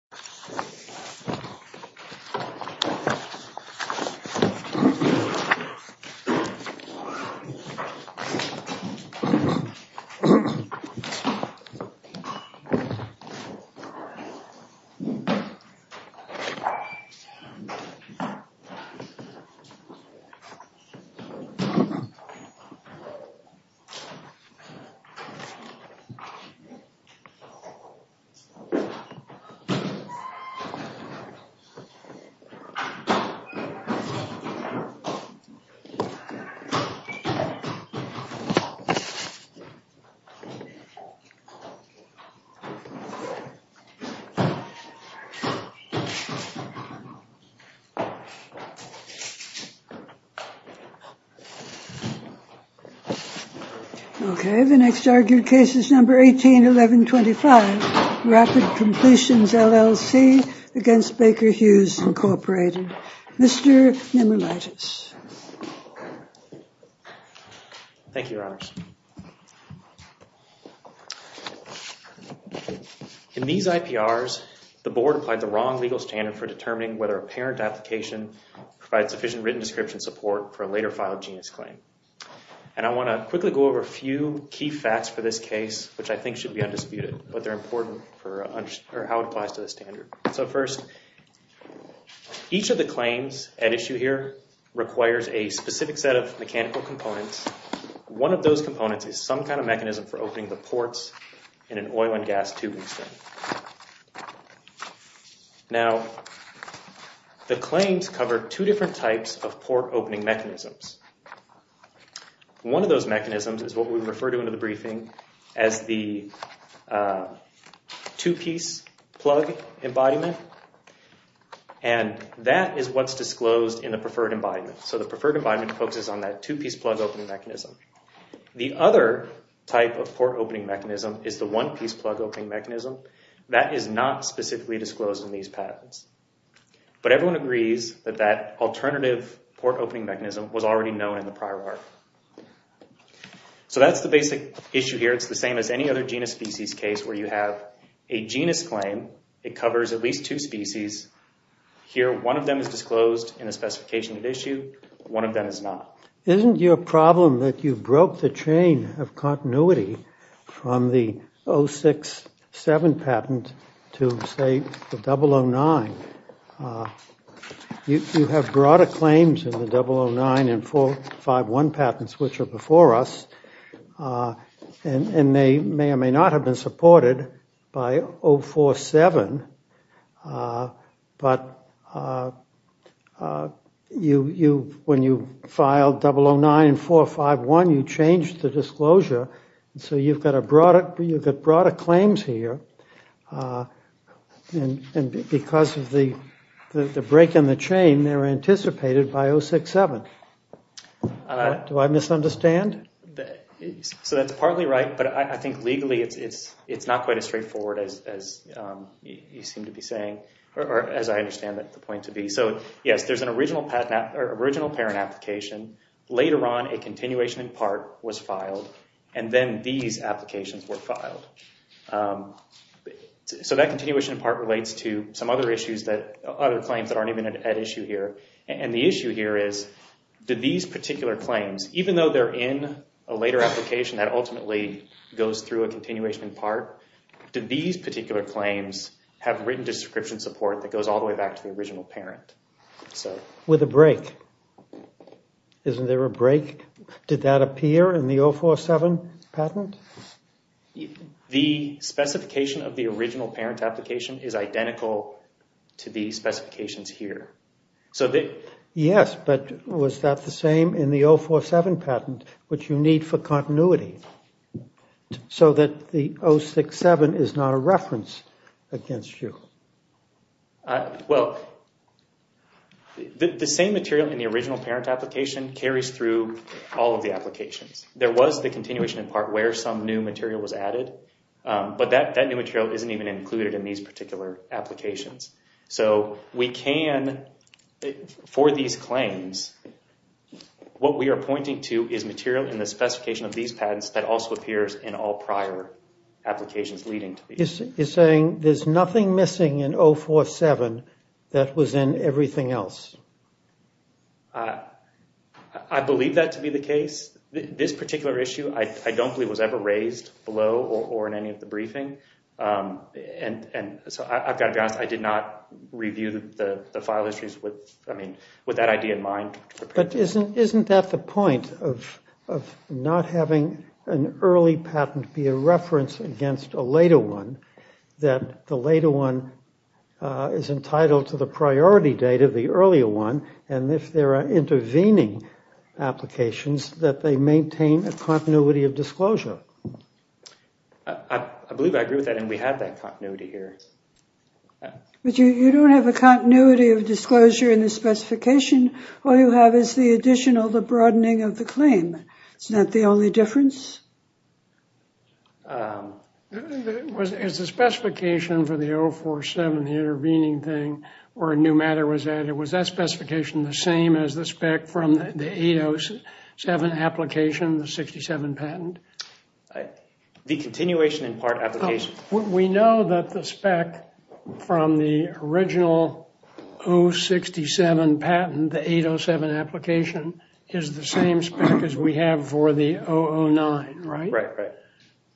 Ap. 92 Nobody is hired. Error 3. The next argued case is No. 18-1125, Rapid Completions, LLC, against Baker-Hughes, Incorporated. Mr. Nimulaitis. Thank you, Your Honors. In these IPRs, the Board applied the wrong legal standard for determining whether a parent application provides sufficient written description support for a later filed genius claim. I want to quickly go over a few key facts for this case, which I think should be undisputed, but they're important for how it applies to the standard. First, each of the claims at issue here requires a specific set of mechanical components. One of those components is some kind of mechanism for opening the ports in an oil and gas tubing string. Now, the claims cover two different types of port opening mechanisms. One of those mechanisms is what we refer to in the briefing as the two-piece plug embodiment, and that is what's disclosed in the preferred embodiment. So the preferred embodiment focuses on that two-piece plug opening mechanism. The other type of port opening mechanism is the one-piece plug opening mechanism. That is not specifically disclosed in these patents, but everyone agrees that that alternative port opening mechanism was already known in the prior part. So that's the basic issue here. It's the same as any other genus species case where you have a genus claim. It covers at least two species. Here one of them is disclosed in the specification at issue, one of them is not. Isn't your problem that you broke the chain of continuity from the 06-07 patent to, say, the 009? You have broader claims in the 009 and 451 patents, which are before us, and they may not have been supported by 047, but when you filed 009 and 451, you changed the disclosure, so you've got broader claims here, and because of the break in the chain, they're anticipated by 06-07. Do I misunderstand? So that's partly right, but I think legally it's not quite as straightforward as you seem to be saying, or as I understand the point to be. So yes, there's an original parent application, later on a continuation in part was filed, and then these applications were filed. So that continuation in part relates to some other claims that aren't even at issue here, and the issue here is, did these particular claims, even though they're in a later application that ultimately goes through a continuation in part, did these particular claims have written description support that goes all the way back to the original parent? With a break. Isn't there a break? Did that appear in the 047 patent? The specification of the original parent application is identical to the specifications here. Yes, but was that the same in the 047 patent, which you need for continuity? So that the 06-07 is not a reference against you? Well, the same material in the original parent application carries through all of the applications. There was the continuation in part where some new material was added, but that new material isn't even included in these particular applications. So we can, for these claims, what we are pointing to is material in the specification of these patents that also appears in all prior applications leading to these. You're saying there's nothing missing in 047 that was in everything else? I believe that to be the case. This particular issue, I don't believe, was ever raised below or in any of the briefing. And so I've got to be honest, I did not review the file histories with that idea in mind. But isn't that the point of not having an early patent be a reference against a later one, that the later one is entitled to the priority data, the earlier one, and if there are intervening applications that they maintain a continuity of disclosure? I believe I agree with that, and we have that continuity here. But you don't have a continuity of disclosure in the specification. All you have is the additional, the broadening of the claim. Isn't that the only difference? Is the specification for the 047, the intervening thing, where a new matter was added, was that the continuation in part application? We know that the spec from the original 067 patent, the 807 application, is the same spec as we have for the 009, right? Right.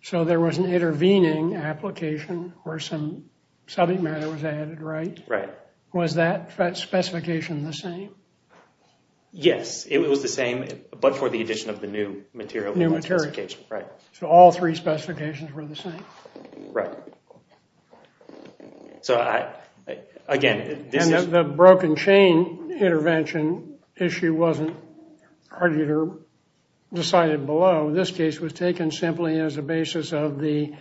So there was an intervening application where some subject matter was added, right? Right. Was that specification the same? Yes, it was the same, but for the addition of the new material. New material. Right. So all three specifications were the same? Right. So, again, this is... And the broken chain intervention issue wasn't argued or decided below. This case was taken simply as a basis of the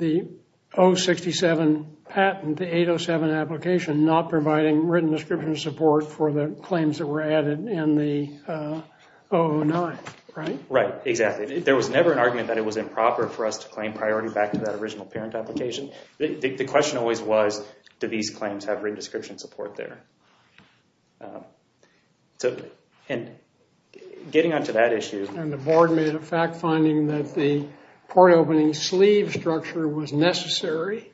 067 patent, the 807 application, not providing written description support for the claims that were added in the 009, right? Right. Exactly. There was never an argument that it was improper for us to claim priority back to that original parent application. The question always was, do these claims have written description support there? And getting on to that issue... And the board made a fact finding that the port opening sleeve structure was necessary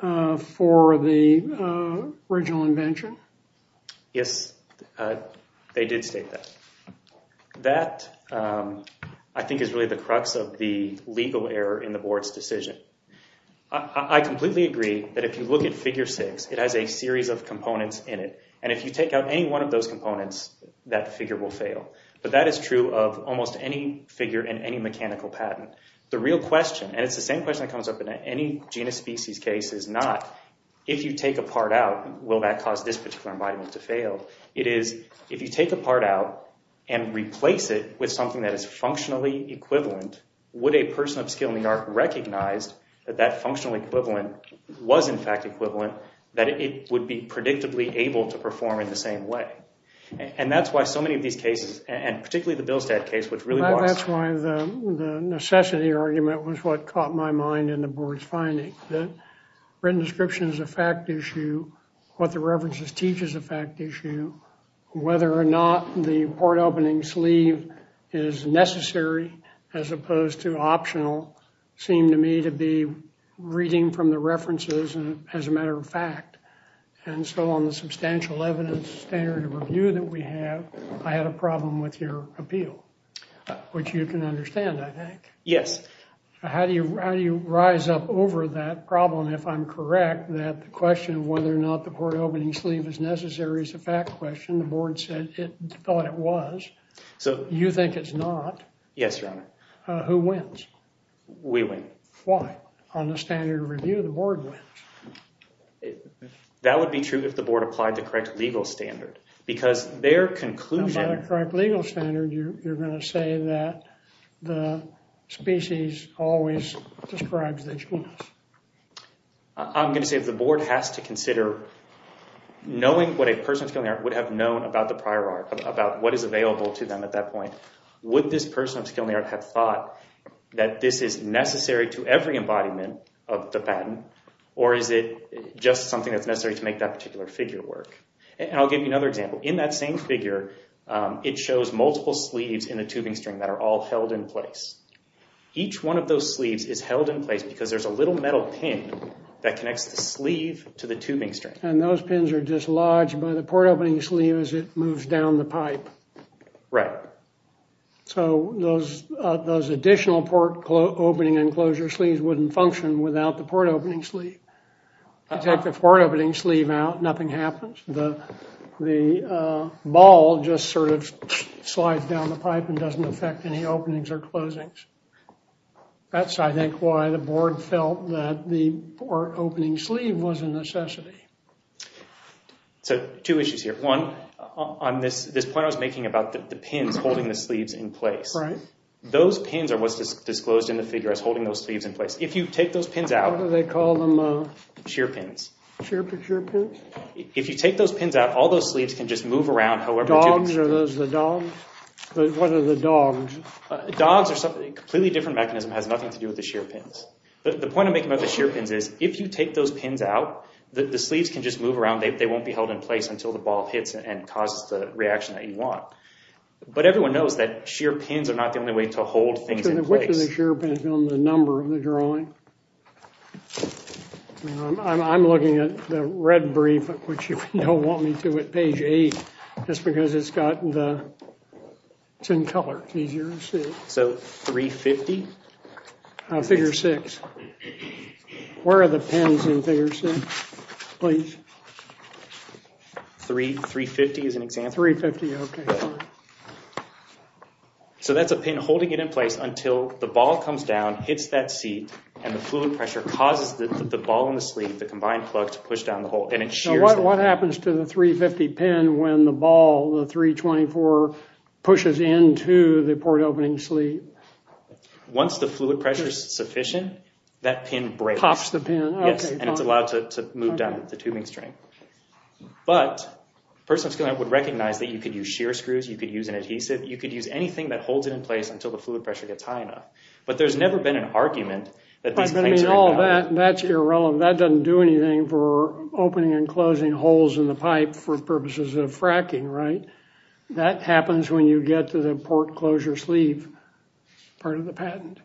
for the original invention. Yes, they did state that. That, I think, is really the crux of the legal error in the board's decision. I completely agree that if you look at figure six, it has a series of components in it. And if you take out any one of those components, that figure will fail. But that is true of almost any figure in any mechanical patent. The real question, and it's the same question that comes up in any genus species case, is not, if you take a part out, will that cause this particular embodiment to fail? It is, if you take a part out and replace it with something that is functionally equivalent, would a person of skill in the art recognize that that functional equivalent was, in fact, equivalent, that it would be predictably able to perform in the same way? And that's why so many of these cases, and particularly the Bilstadt case, which really was... The complexity argument was what caught my mind in the board's finding, that written description is a fact issue. What the references teach is a fact issue. Whether or not the part opening sleeve is necessary as opposed to optional seemed to me to be reading from the references as a matter of fact. And so on the substantial evidence standard of review that we have, I had a problem with your appeal, which you can understand, I think. Yes. How do you rise up over that problem if I'm correct that the question of whether or not the part opening sleeve is necessary is a fact question? The board said it thought it was. You think it's not. Yes, Your Honor. Who wins? We win. Why? On the standard of review, the board wins. That would be true if the board applied the correct legal standard because their conclusion... By the correct legal standard, you're going to say that the species always describes that you win. I'm going to say if the board has to consider knowing what a person of skill and the art would have known about the prior art, about what is available to them at that point, would this person of skill and the art have thought that this is necessary to every embodiment of the patent, or is it just something that's necessary to make that particular figure work? I'll give you another example. In that same figure, it shows multiple sleeves in the tubing string that are all held in place. Each one of those sleeves is held in place because there's a little metal pin that connects the sleeve to the tubing string. Those pins are dislodged by the port opening sleeve as it moves down the pipe. Right. Those additional port opening and enclosure sleeves wouldn't function without the port opening sleeve. If you take the port opening sleeve out, nothing happens. The ball just sort of slides down the pipe and doesn't affect any openings or closings. That's, I think, why the board felt that the port opening sleeve was a necessity. So, two issues here. One, on this point I was making about the pins holding the sleeves in place. Right. Those pins are what's disclosed in the figure as holding those sleeves in place. If you take those pins out. What do they call them? Shear pins. Shear pins? If you take those pins out, all those sleeves can just move around however you choose. Dogs? Are those the dogs? What are the dogs? Dogs are a completely different mechanism. It has nothing to do with the shear pins. The point I'm making about the shear pins is if you take those pins out, the sleeves can just move around. They won't be held in place until the ball hits and causes the reaction that you want. But everyone knows that shear pins are not the only way to hold things in place. Which of the shear pins is on the number of the drawing? I'm looking at the red brief, which you don't want me to at page 8, just because it's got the, it's in color. It's easier to see. So, 350? Figure 6. Where are the pins in figure 6? Please. 350 is an example? 350, okay. So that's a pin holding it in place until the ball comes down, hits that seat, and the fluid pressure causes the ball and the sleeve, the combined plug, to push down the hole. And it shears it. What happens to the 350 pin when the ball, the 324, pushes into the port opening sleeve? Once the fluid pressure is sufficient, that pin breaks. Pops the pin. Yes, and it's allowed to move down the tubing string. But a person of skill would recognize that you could use shear screws. You could use an adhesive. You could use anything that holds it in place until the fluid pressure gets high enough. But there's never been an argument that these things are invalid. That's irrelevant. That doesn't do anything for opening and closing holes in the pipe for purposes of fracking, right? That happens when you get to the port closure sleeve part of the patent.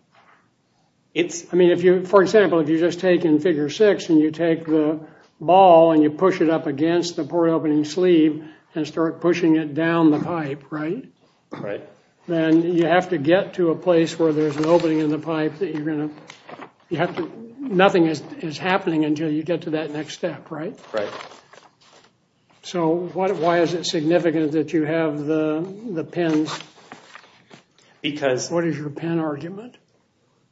I mean, for example, if you just take in Figure 6 and you take the ball and you push it up against the port opening sleeve and start pushing it down the pipe, right? Right. Then you have to get to a place where there's an opening in the pipe that you're going to – you have to – nothing is happening until you get to that next step, right? Right. So why is it significant that you have the pins? Because – What is your pin argument?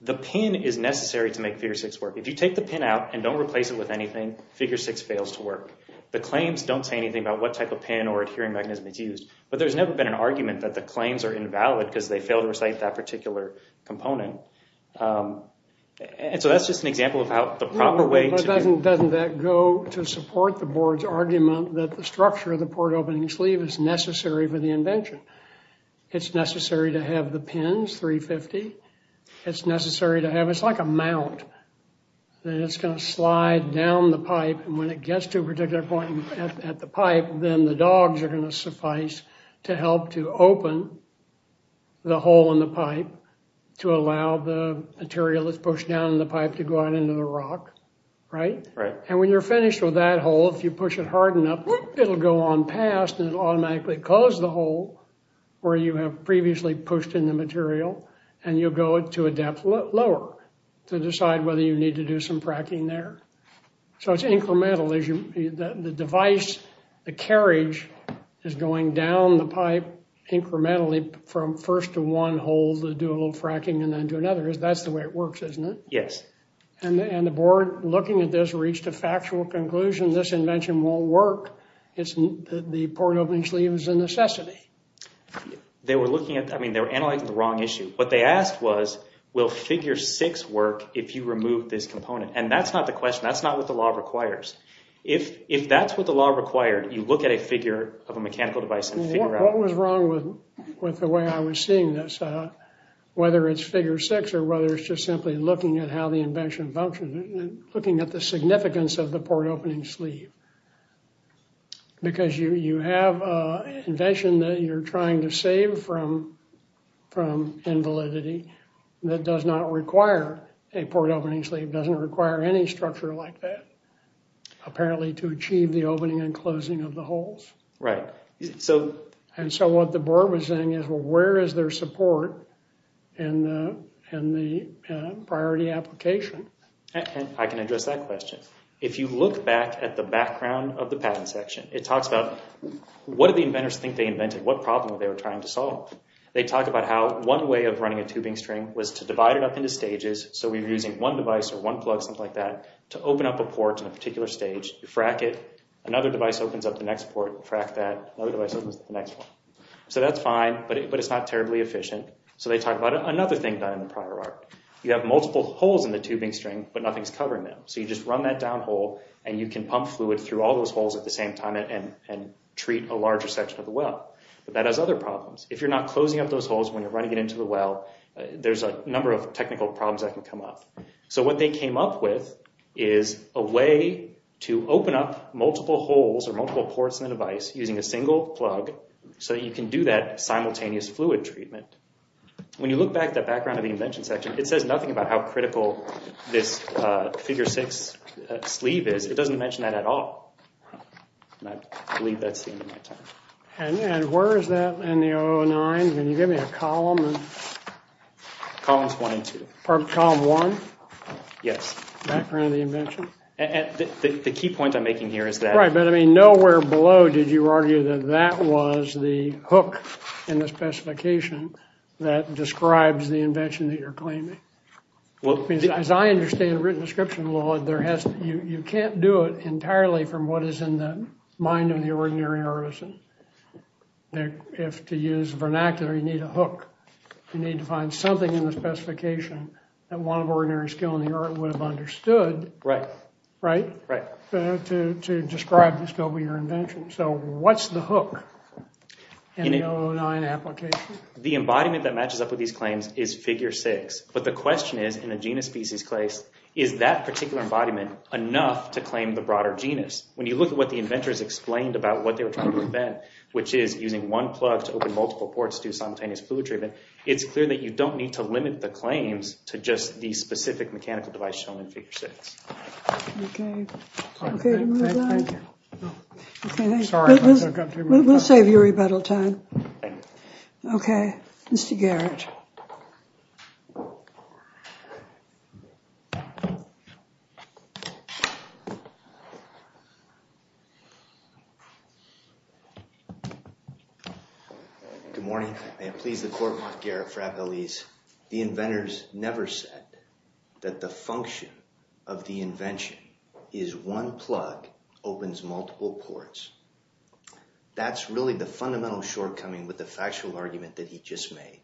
The pin is necessary to make Figure 6 work. If you take the pin out and don't replace it with anything, Figure 6 fails to work. The claims don't say anything about what type of pin or adhering mechanism it's used, but there's never been an argument that the claims are invalid because they fail to recite that particular component. So that's just an example of how the proper way to – But doesn't that go to support the board's argument that the structure of the port opening sleeve is necessary for the invention? It's necessary to have the pins, 350. It's necessary to have – it's like a mount. It's going to slide down the pipe, and when it gets to a particular point at the pipe, then the dogs are going to suffice to help to open the hole in the pipe to allow the material that's pushed down in the pipe to go out into the rock, right? Right. And when you're finished with that hole, if you push it hard enough, it'll go on past and it'll automatically close the hole where you have previously pushed in the material, and you'll go to a depth lower to decide whether you need to do some fracking there. So it's incremental. The device, the carriage, is going down the pipe incrementally from first to one hole to do a little fracking and then to another. That's the way it works, isn't it? Yes. And the board, looking at this, reached a factual conclusion. This invention won't work. The port opening sleeve is a necessity. They were looking at – I mean, they were analyzing the wrong issue. What they asked was, will figure six work if you remove this component? And that's not the question. That's not what the law requires. If that's what the law required, you look at a figure of a mechanical device and figure out – What was wrong with the way I was seeing this, whether it's figure six or whether it's just simply looking at how the invention functions, looking at the significance of the port opening sleeve. Because you have an invention that you're trying to save from invalidity that does not require a port opening sleeve, doesn't require any structure like that, apparently to achieve the opening and closing of the holes. Right. And so what the board was saying is, well, where is their support in the priority application? I can address that question. If you look back at the background of the patent section, it talks about what did the inventors think they invented, what problem were they trying to solve. They talk about how one way of running a tubing string was to divide it up into stages. So we're using one device or one plug, something like that, to open up a port in a particular stage. You frack it. Another device opens up the next port. You frack that. Another device opens up the next one. So that's fine, but it's not terribly efficient. So they talk about another thing done in the prior art. You have multiple holes in the tubing string, but nothing's covering them. So you just run that down hole, and you can pump fluid through all those holes at the same time and treat a larger section of the well. But that has other problems. If you're not closing up those holes when you're running it into the well, there's a number of technical problems that can come up. So what they came up with is a way to open up multiple holes or multiple ports in the device using a single plug so that you can do that simultaneous fluid treatment. When you look back at that background of the invention section, it says nothing about how critical this figure 6 sleeve is. It doesn't mention that at all. I believe that's the end of my time. And where is that in the 009? Can you give me a column? Columns 1 and 2. Or column 1? Yes. Background of the invention? The key point I'm making here is that— that describes the invention that you're claiming. As I understand the written description of the 009, you can't do it entirely from what is in the mind of the ordinary artisan. To use vernacular, you need a hook. You need to find something in the specification that one of ordinary skill in the art would have understood— Right. Right? Right. —to describe the scope of your invention. So what's the hook in the 009 application? The embodiment that matches up with these claims is figure 6. But the question is, in a genus-species case, is that particular embodiment enough to claim the broader genus? When you look at what the inventors explained about what they were trying to prevent, which is using one plug to open multiple ports to do simultaneous fluid treatment, it's clear that you don't need to limit the claims to just the specific mechanical device shown in figure 6. Okay. Thank you. Sorry if I took up too much time. We'll save you rebuttal time. Okay. Okay. Mr. Garrett. Good morning. May it please the court, Mark Garrett for Appellees. The inventors never said that the function of the invention is one plug opens multiple ports. That's really the fundamental shortcoming with the factual argument that he just made.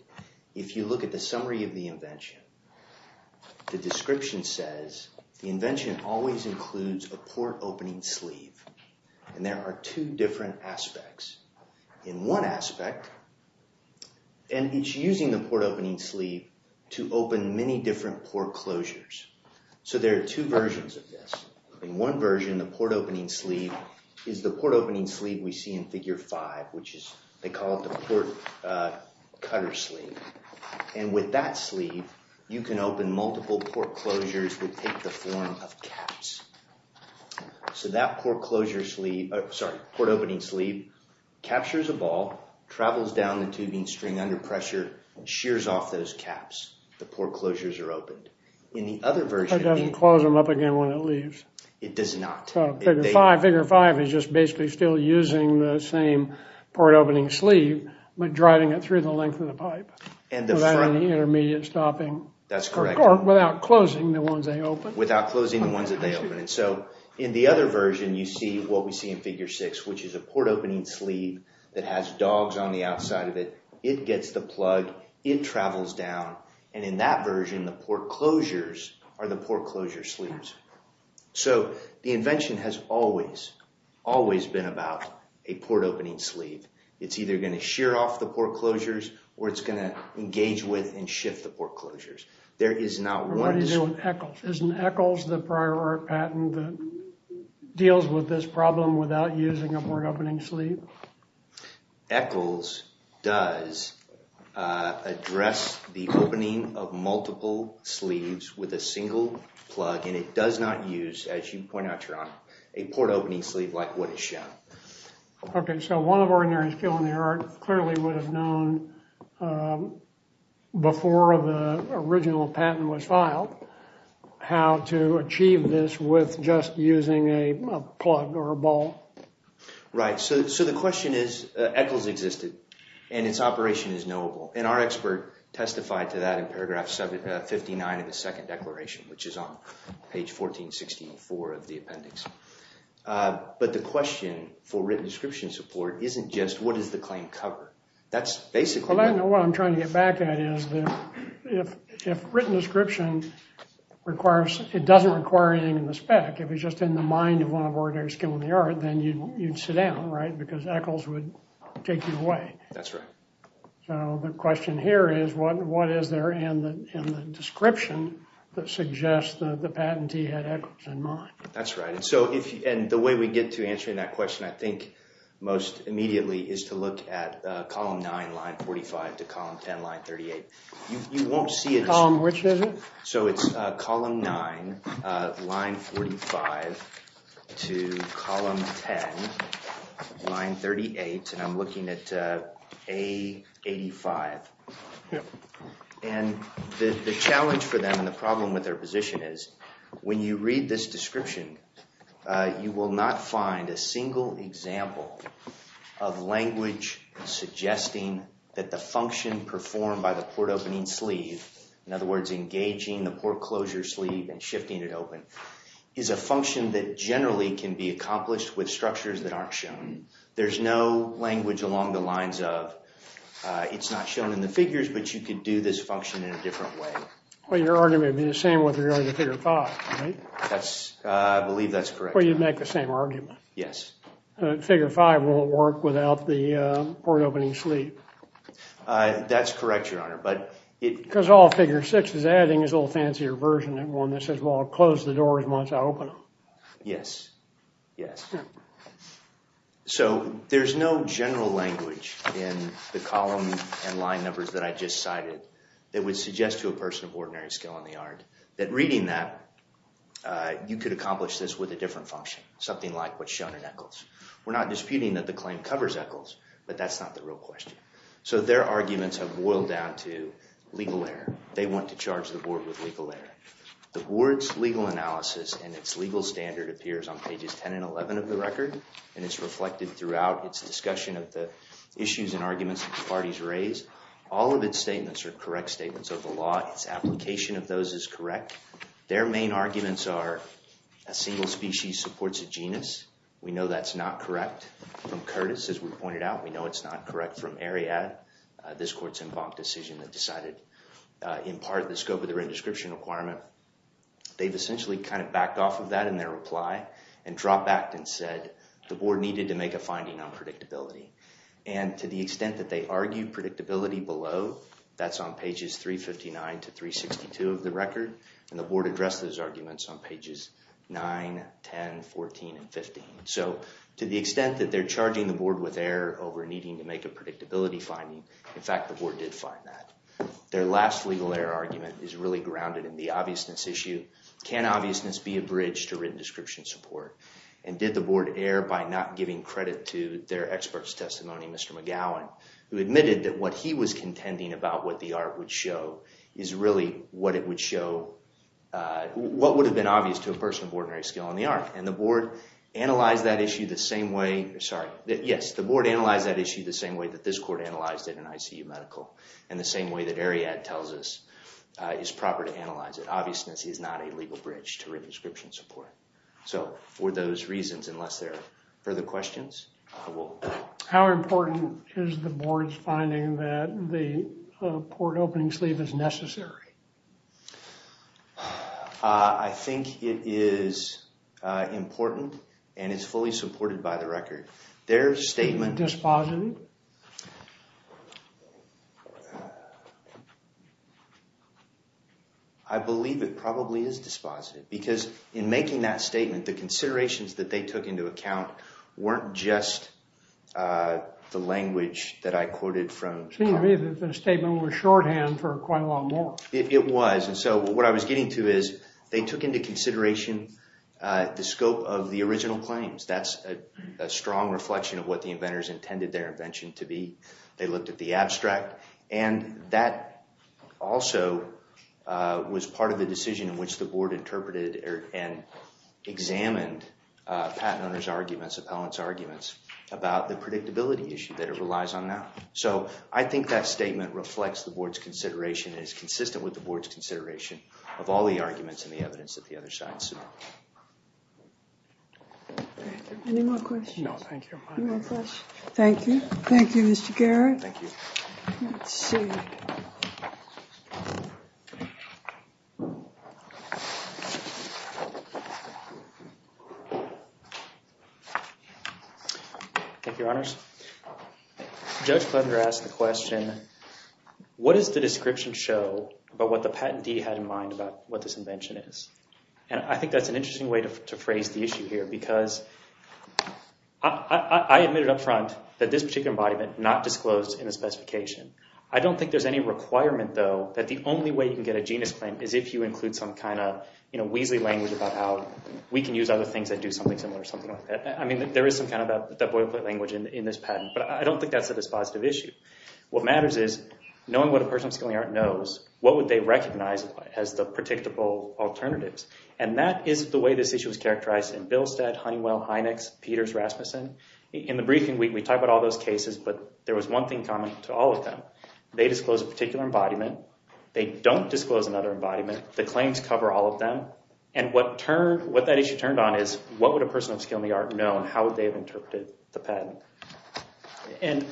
If you look at the summary of the invention, the description says, the invention always includes a port opening sleeve. And there are two different aspects. In one aspect, and it's using the port opening sleeve to open many different port closures. So there are two versions of this. In one version, the port opening sleeve is the port opening sleeve we see in figure 5, which is they call it the port cutter sleeve. And with that sleeve, you can open multiple port closures that take the form of caps. So that port opening sleeve captures a ball, travels down the tubing string under pressure, and shears off those caps. The port closures are opened. In the other version... It doesn't close them up again when it leaves. It does not. Figure 5 is just basically still using the same port opening sleeve, but driving it through the length of the pipe without any intermediate stopping. That's correct. Or without closing the ones they open. So in the other version, you see what we see in figure 6, which is a port opening sleeve that has dogs on the outside of it. It gets the plug. It travels down. And in that version, the port closures are the port closure sleeves. So the invention has always, always been about a port opening sleeve. It's either going to shear off the port closures, or it's going to engage with and shift the port closures. What do you do with ECHLS? Isn't ECHLS the prior art patent that deals with this problem without using a port opening sleeve? ECHLS does address the opening of multiple sleeves with a single plug, and it does not use, as you point out, Your Honor, a port opening sleeve like what is shown. Okay, so one of our ordinary skill in the art clearly would have known, before the original patent was filed, how to achieve this with just using a plug or a ball. Right. So the question is ECHLS existed, and its operation is knowable, and our expert testified to that in paragraph 59 of the second declaration, which is on page 1464 of the appendix. But the question for written description support isn't just what does the claim cover. That's basically... Well, I know what I'm trying to get back at is that if written description requires, it doesn't require anything in the spec. If it's just in the mind of one of our ordinary skill in the art, then you'd sit down, right, because ECHLS would take you away. That's right. So the question here is what is there in the description that suggests that the patentee had ECHLS in mind. That's right. And the way we get to answering that question, I think, most immediately, is to look at column 9, line 45, to column 10, line 38. You won't see it as... Column which is it? So it's column 9, line 45, to column 10, line 38, and I'm looking at A85. Yep. And the challenge for them and the problem with their position is when you read this description, you will not find a single example of language suggesting that the function performed by the port opening sleeve, in other words, engaging the port closure sleeve and shifting it open, is a function that generally can be accomplished with structures that aren't shown. There's no language along the lines of it's not shown in the figures, but you could do this function in a different way. Well, your argument would be the same with regard to figure 5, right? I believe that's correct. Well, you'd make the same argument. Yes. Figure 5 won't work without the port opening sleeve. That's correct, Your Honor, but it... Because all figure 6 is adding is a little fancier version of one that says, well, I'll close the door as much as I open them. Yes. Yes. Yeah. So there's no general language in the column and line numbers that I just cited that would suggest to a person of ordinary skill in the yard that reading that, you could accomplish this with a different function, something like what's shown in Eccles. We're not disputing that the claim covers Eccles, but that's not the real question. So their arguments have boiled down to legal error. They want to charge the board with legal error. The board's legal analysis and its legal standard appears on pages 10 and 11 of the record, and it's reflected throughout its discussion of the issues and arguments that the parties raised. All of its statements are correct statements of the law. Its application of those is correct. Their main arguments are a single species supports a genus. We know that's not correct from Curtis, as we pointed out. We know it's not correct from Ariad. This court's embunked a decision that decided, in part, the scope of the written description requirement. They've essentially kind of backed off of that in their reply and dropped back and said the board needed to make a finding on predictability. And to the extent that they argue predictability below, that's on pages 359 to 362 of the record, and the board addressed those arguments on pages 9, 10, 14, and 15. So to the extent that they're charging the board with error over needing to make a predictability finding, in fact, the board did find that. Their last legal error argument is really grounded in the obviousness issue. Can obviousness be a bridge to written description support? And did the board err by not giving credit to their expert's testimony, Mr. McGowan, who admitted that what he was contending about what the art would show is really what it would show what would have been obvious to a person of ordinary skill in the art? And the board analyzed that issue the same way that this court analyzed it in ICU medical and the same way that Ariad tells us is proper to analyze it. Obviousness is not a legal bridge to written description support. So for those reasons, unless there are further questions, I will... How important is the board's finding that the port opening sleeve is necessary? I think it is important and it's fully supported by the record. Their statement... Is it dispositive? I believe it probably is dispositive because in making that statement, the considerations that they took into account weren't just the language that I quoted from... It seemed to me that the statement was shorthand for quite a lot more. It was. And so what I was getting to is they took into consideration the scope of the original claims. That's a strong reflection of what the inventors intended their inventories to be. They looked at the abstract. And that also was part of the decision in which the board interpreted and examined Pat and others' arguments, appellants' arguments, about the predictability issue that it relies on now. So I think that statement reflects the board's consideration and is consistent with the board's consideration of all the arguments and the evidence that the other side sued. Any more questions? No, thank you. Thank you. Thank you, Mr. Garrett. Thank you. Let's see. Thank you, Your Honors. Judge Fletcher asked the question, what does the description show about what the patentee had in mind about what this invention is? And I think that's an interesting way to phrase the issue here because I admitted up front that this particular embodiment not disclosed in the specification. I don't think there's any requirement, though, that the only way you can get a genus claim is if you include some kind of weasley language about how we can use other things that do something similar or something like that. I mean, there is some kind of that boilerplate language in this patent, but I don't think that's a dispositive issue. What matters is knowing what a person of skilling art knows, what would they recognize as the predictable alternatives? And that is the way this issue is characterized in Bilstead, Honeywell, Hynex, Peters, Rasmussen. In the briefing, we talk about all those cases, but there was one thing common to all of them. They disclosed a particular embodiment. They don't disclose another embodiment. The claims cover all of them. And what that issue turned on is what would a person of skilling art know and how would they have interpreted the patent? And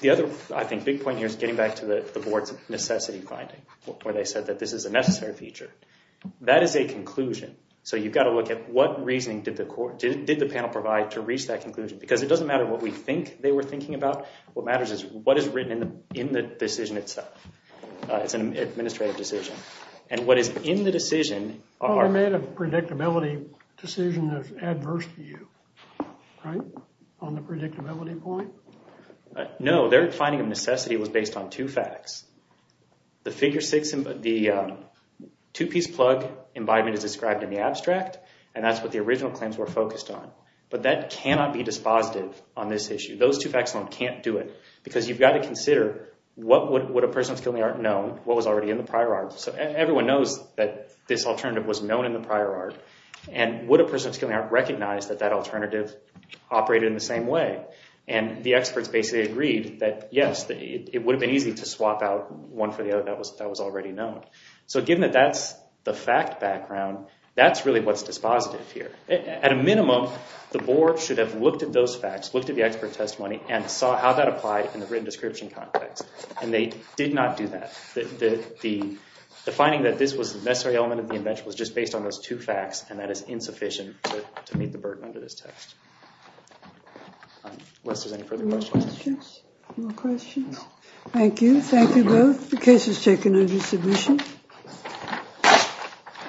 the other, I think, big point here is getting back to the board's necessity finding where they said that this is a necessary feature. That is a conclusion. So you've got to look at what reasoning did the panel provide to reach that conclusion? Because it doesn't matter what we think they were thinking about. What matters is what is written in the decision itself. It's an administrative decision. And what is in the decision are— Well, they made a predictability decision that's adverse to you, right? On the predictability point? No, their finding of necessity was based on two facts. The two-piece plug embodiment is described in the abstract, and that's what the original claims were focused on. But that cannot be dispositive on this issue. Those two facts alone can't do it because you've got to consider what would a person of skilling art know, what was already in the prior art. So everyone knows that this alternative was known in the prior art. And would a person of skilling art recognize that that alternative operated in the same way? And the experts basically agreed that, yes, it would have been easy to swap out one for the other that was already known. So given that that's the fact background, that's really what's dispositive here. At a minimum, the board should have looked at those facts, looked at the expert testimony, and saw how that applied in the written description context. And they did not do that. The finding that this was a necessary element of the invention was just based on those two facts, and that is insufficient to meet the burden under this text. Unless there's any further questions. No questions. Thank you. Thank you both. The case is taken under submission.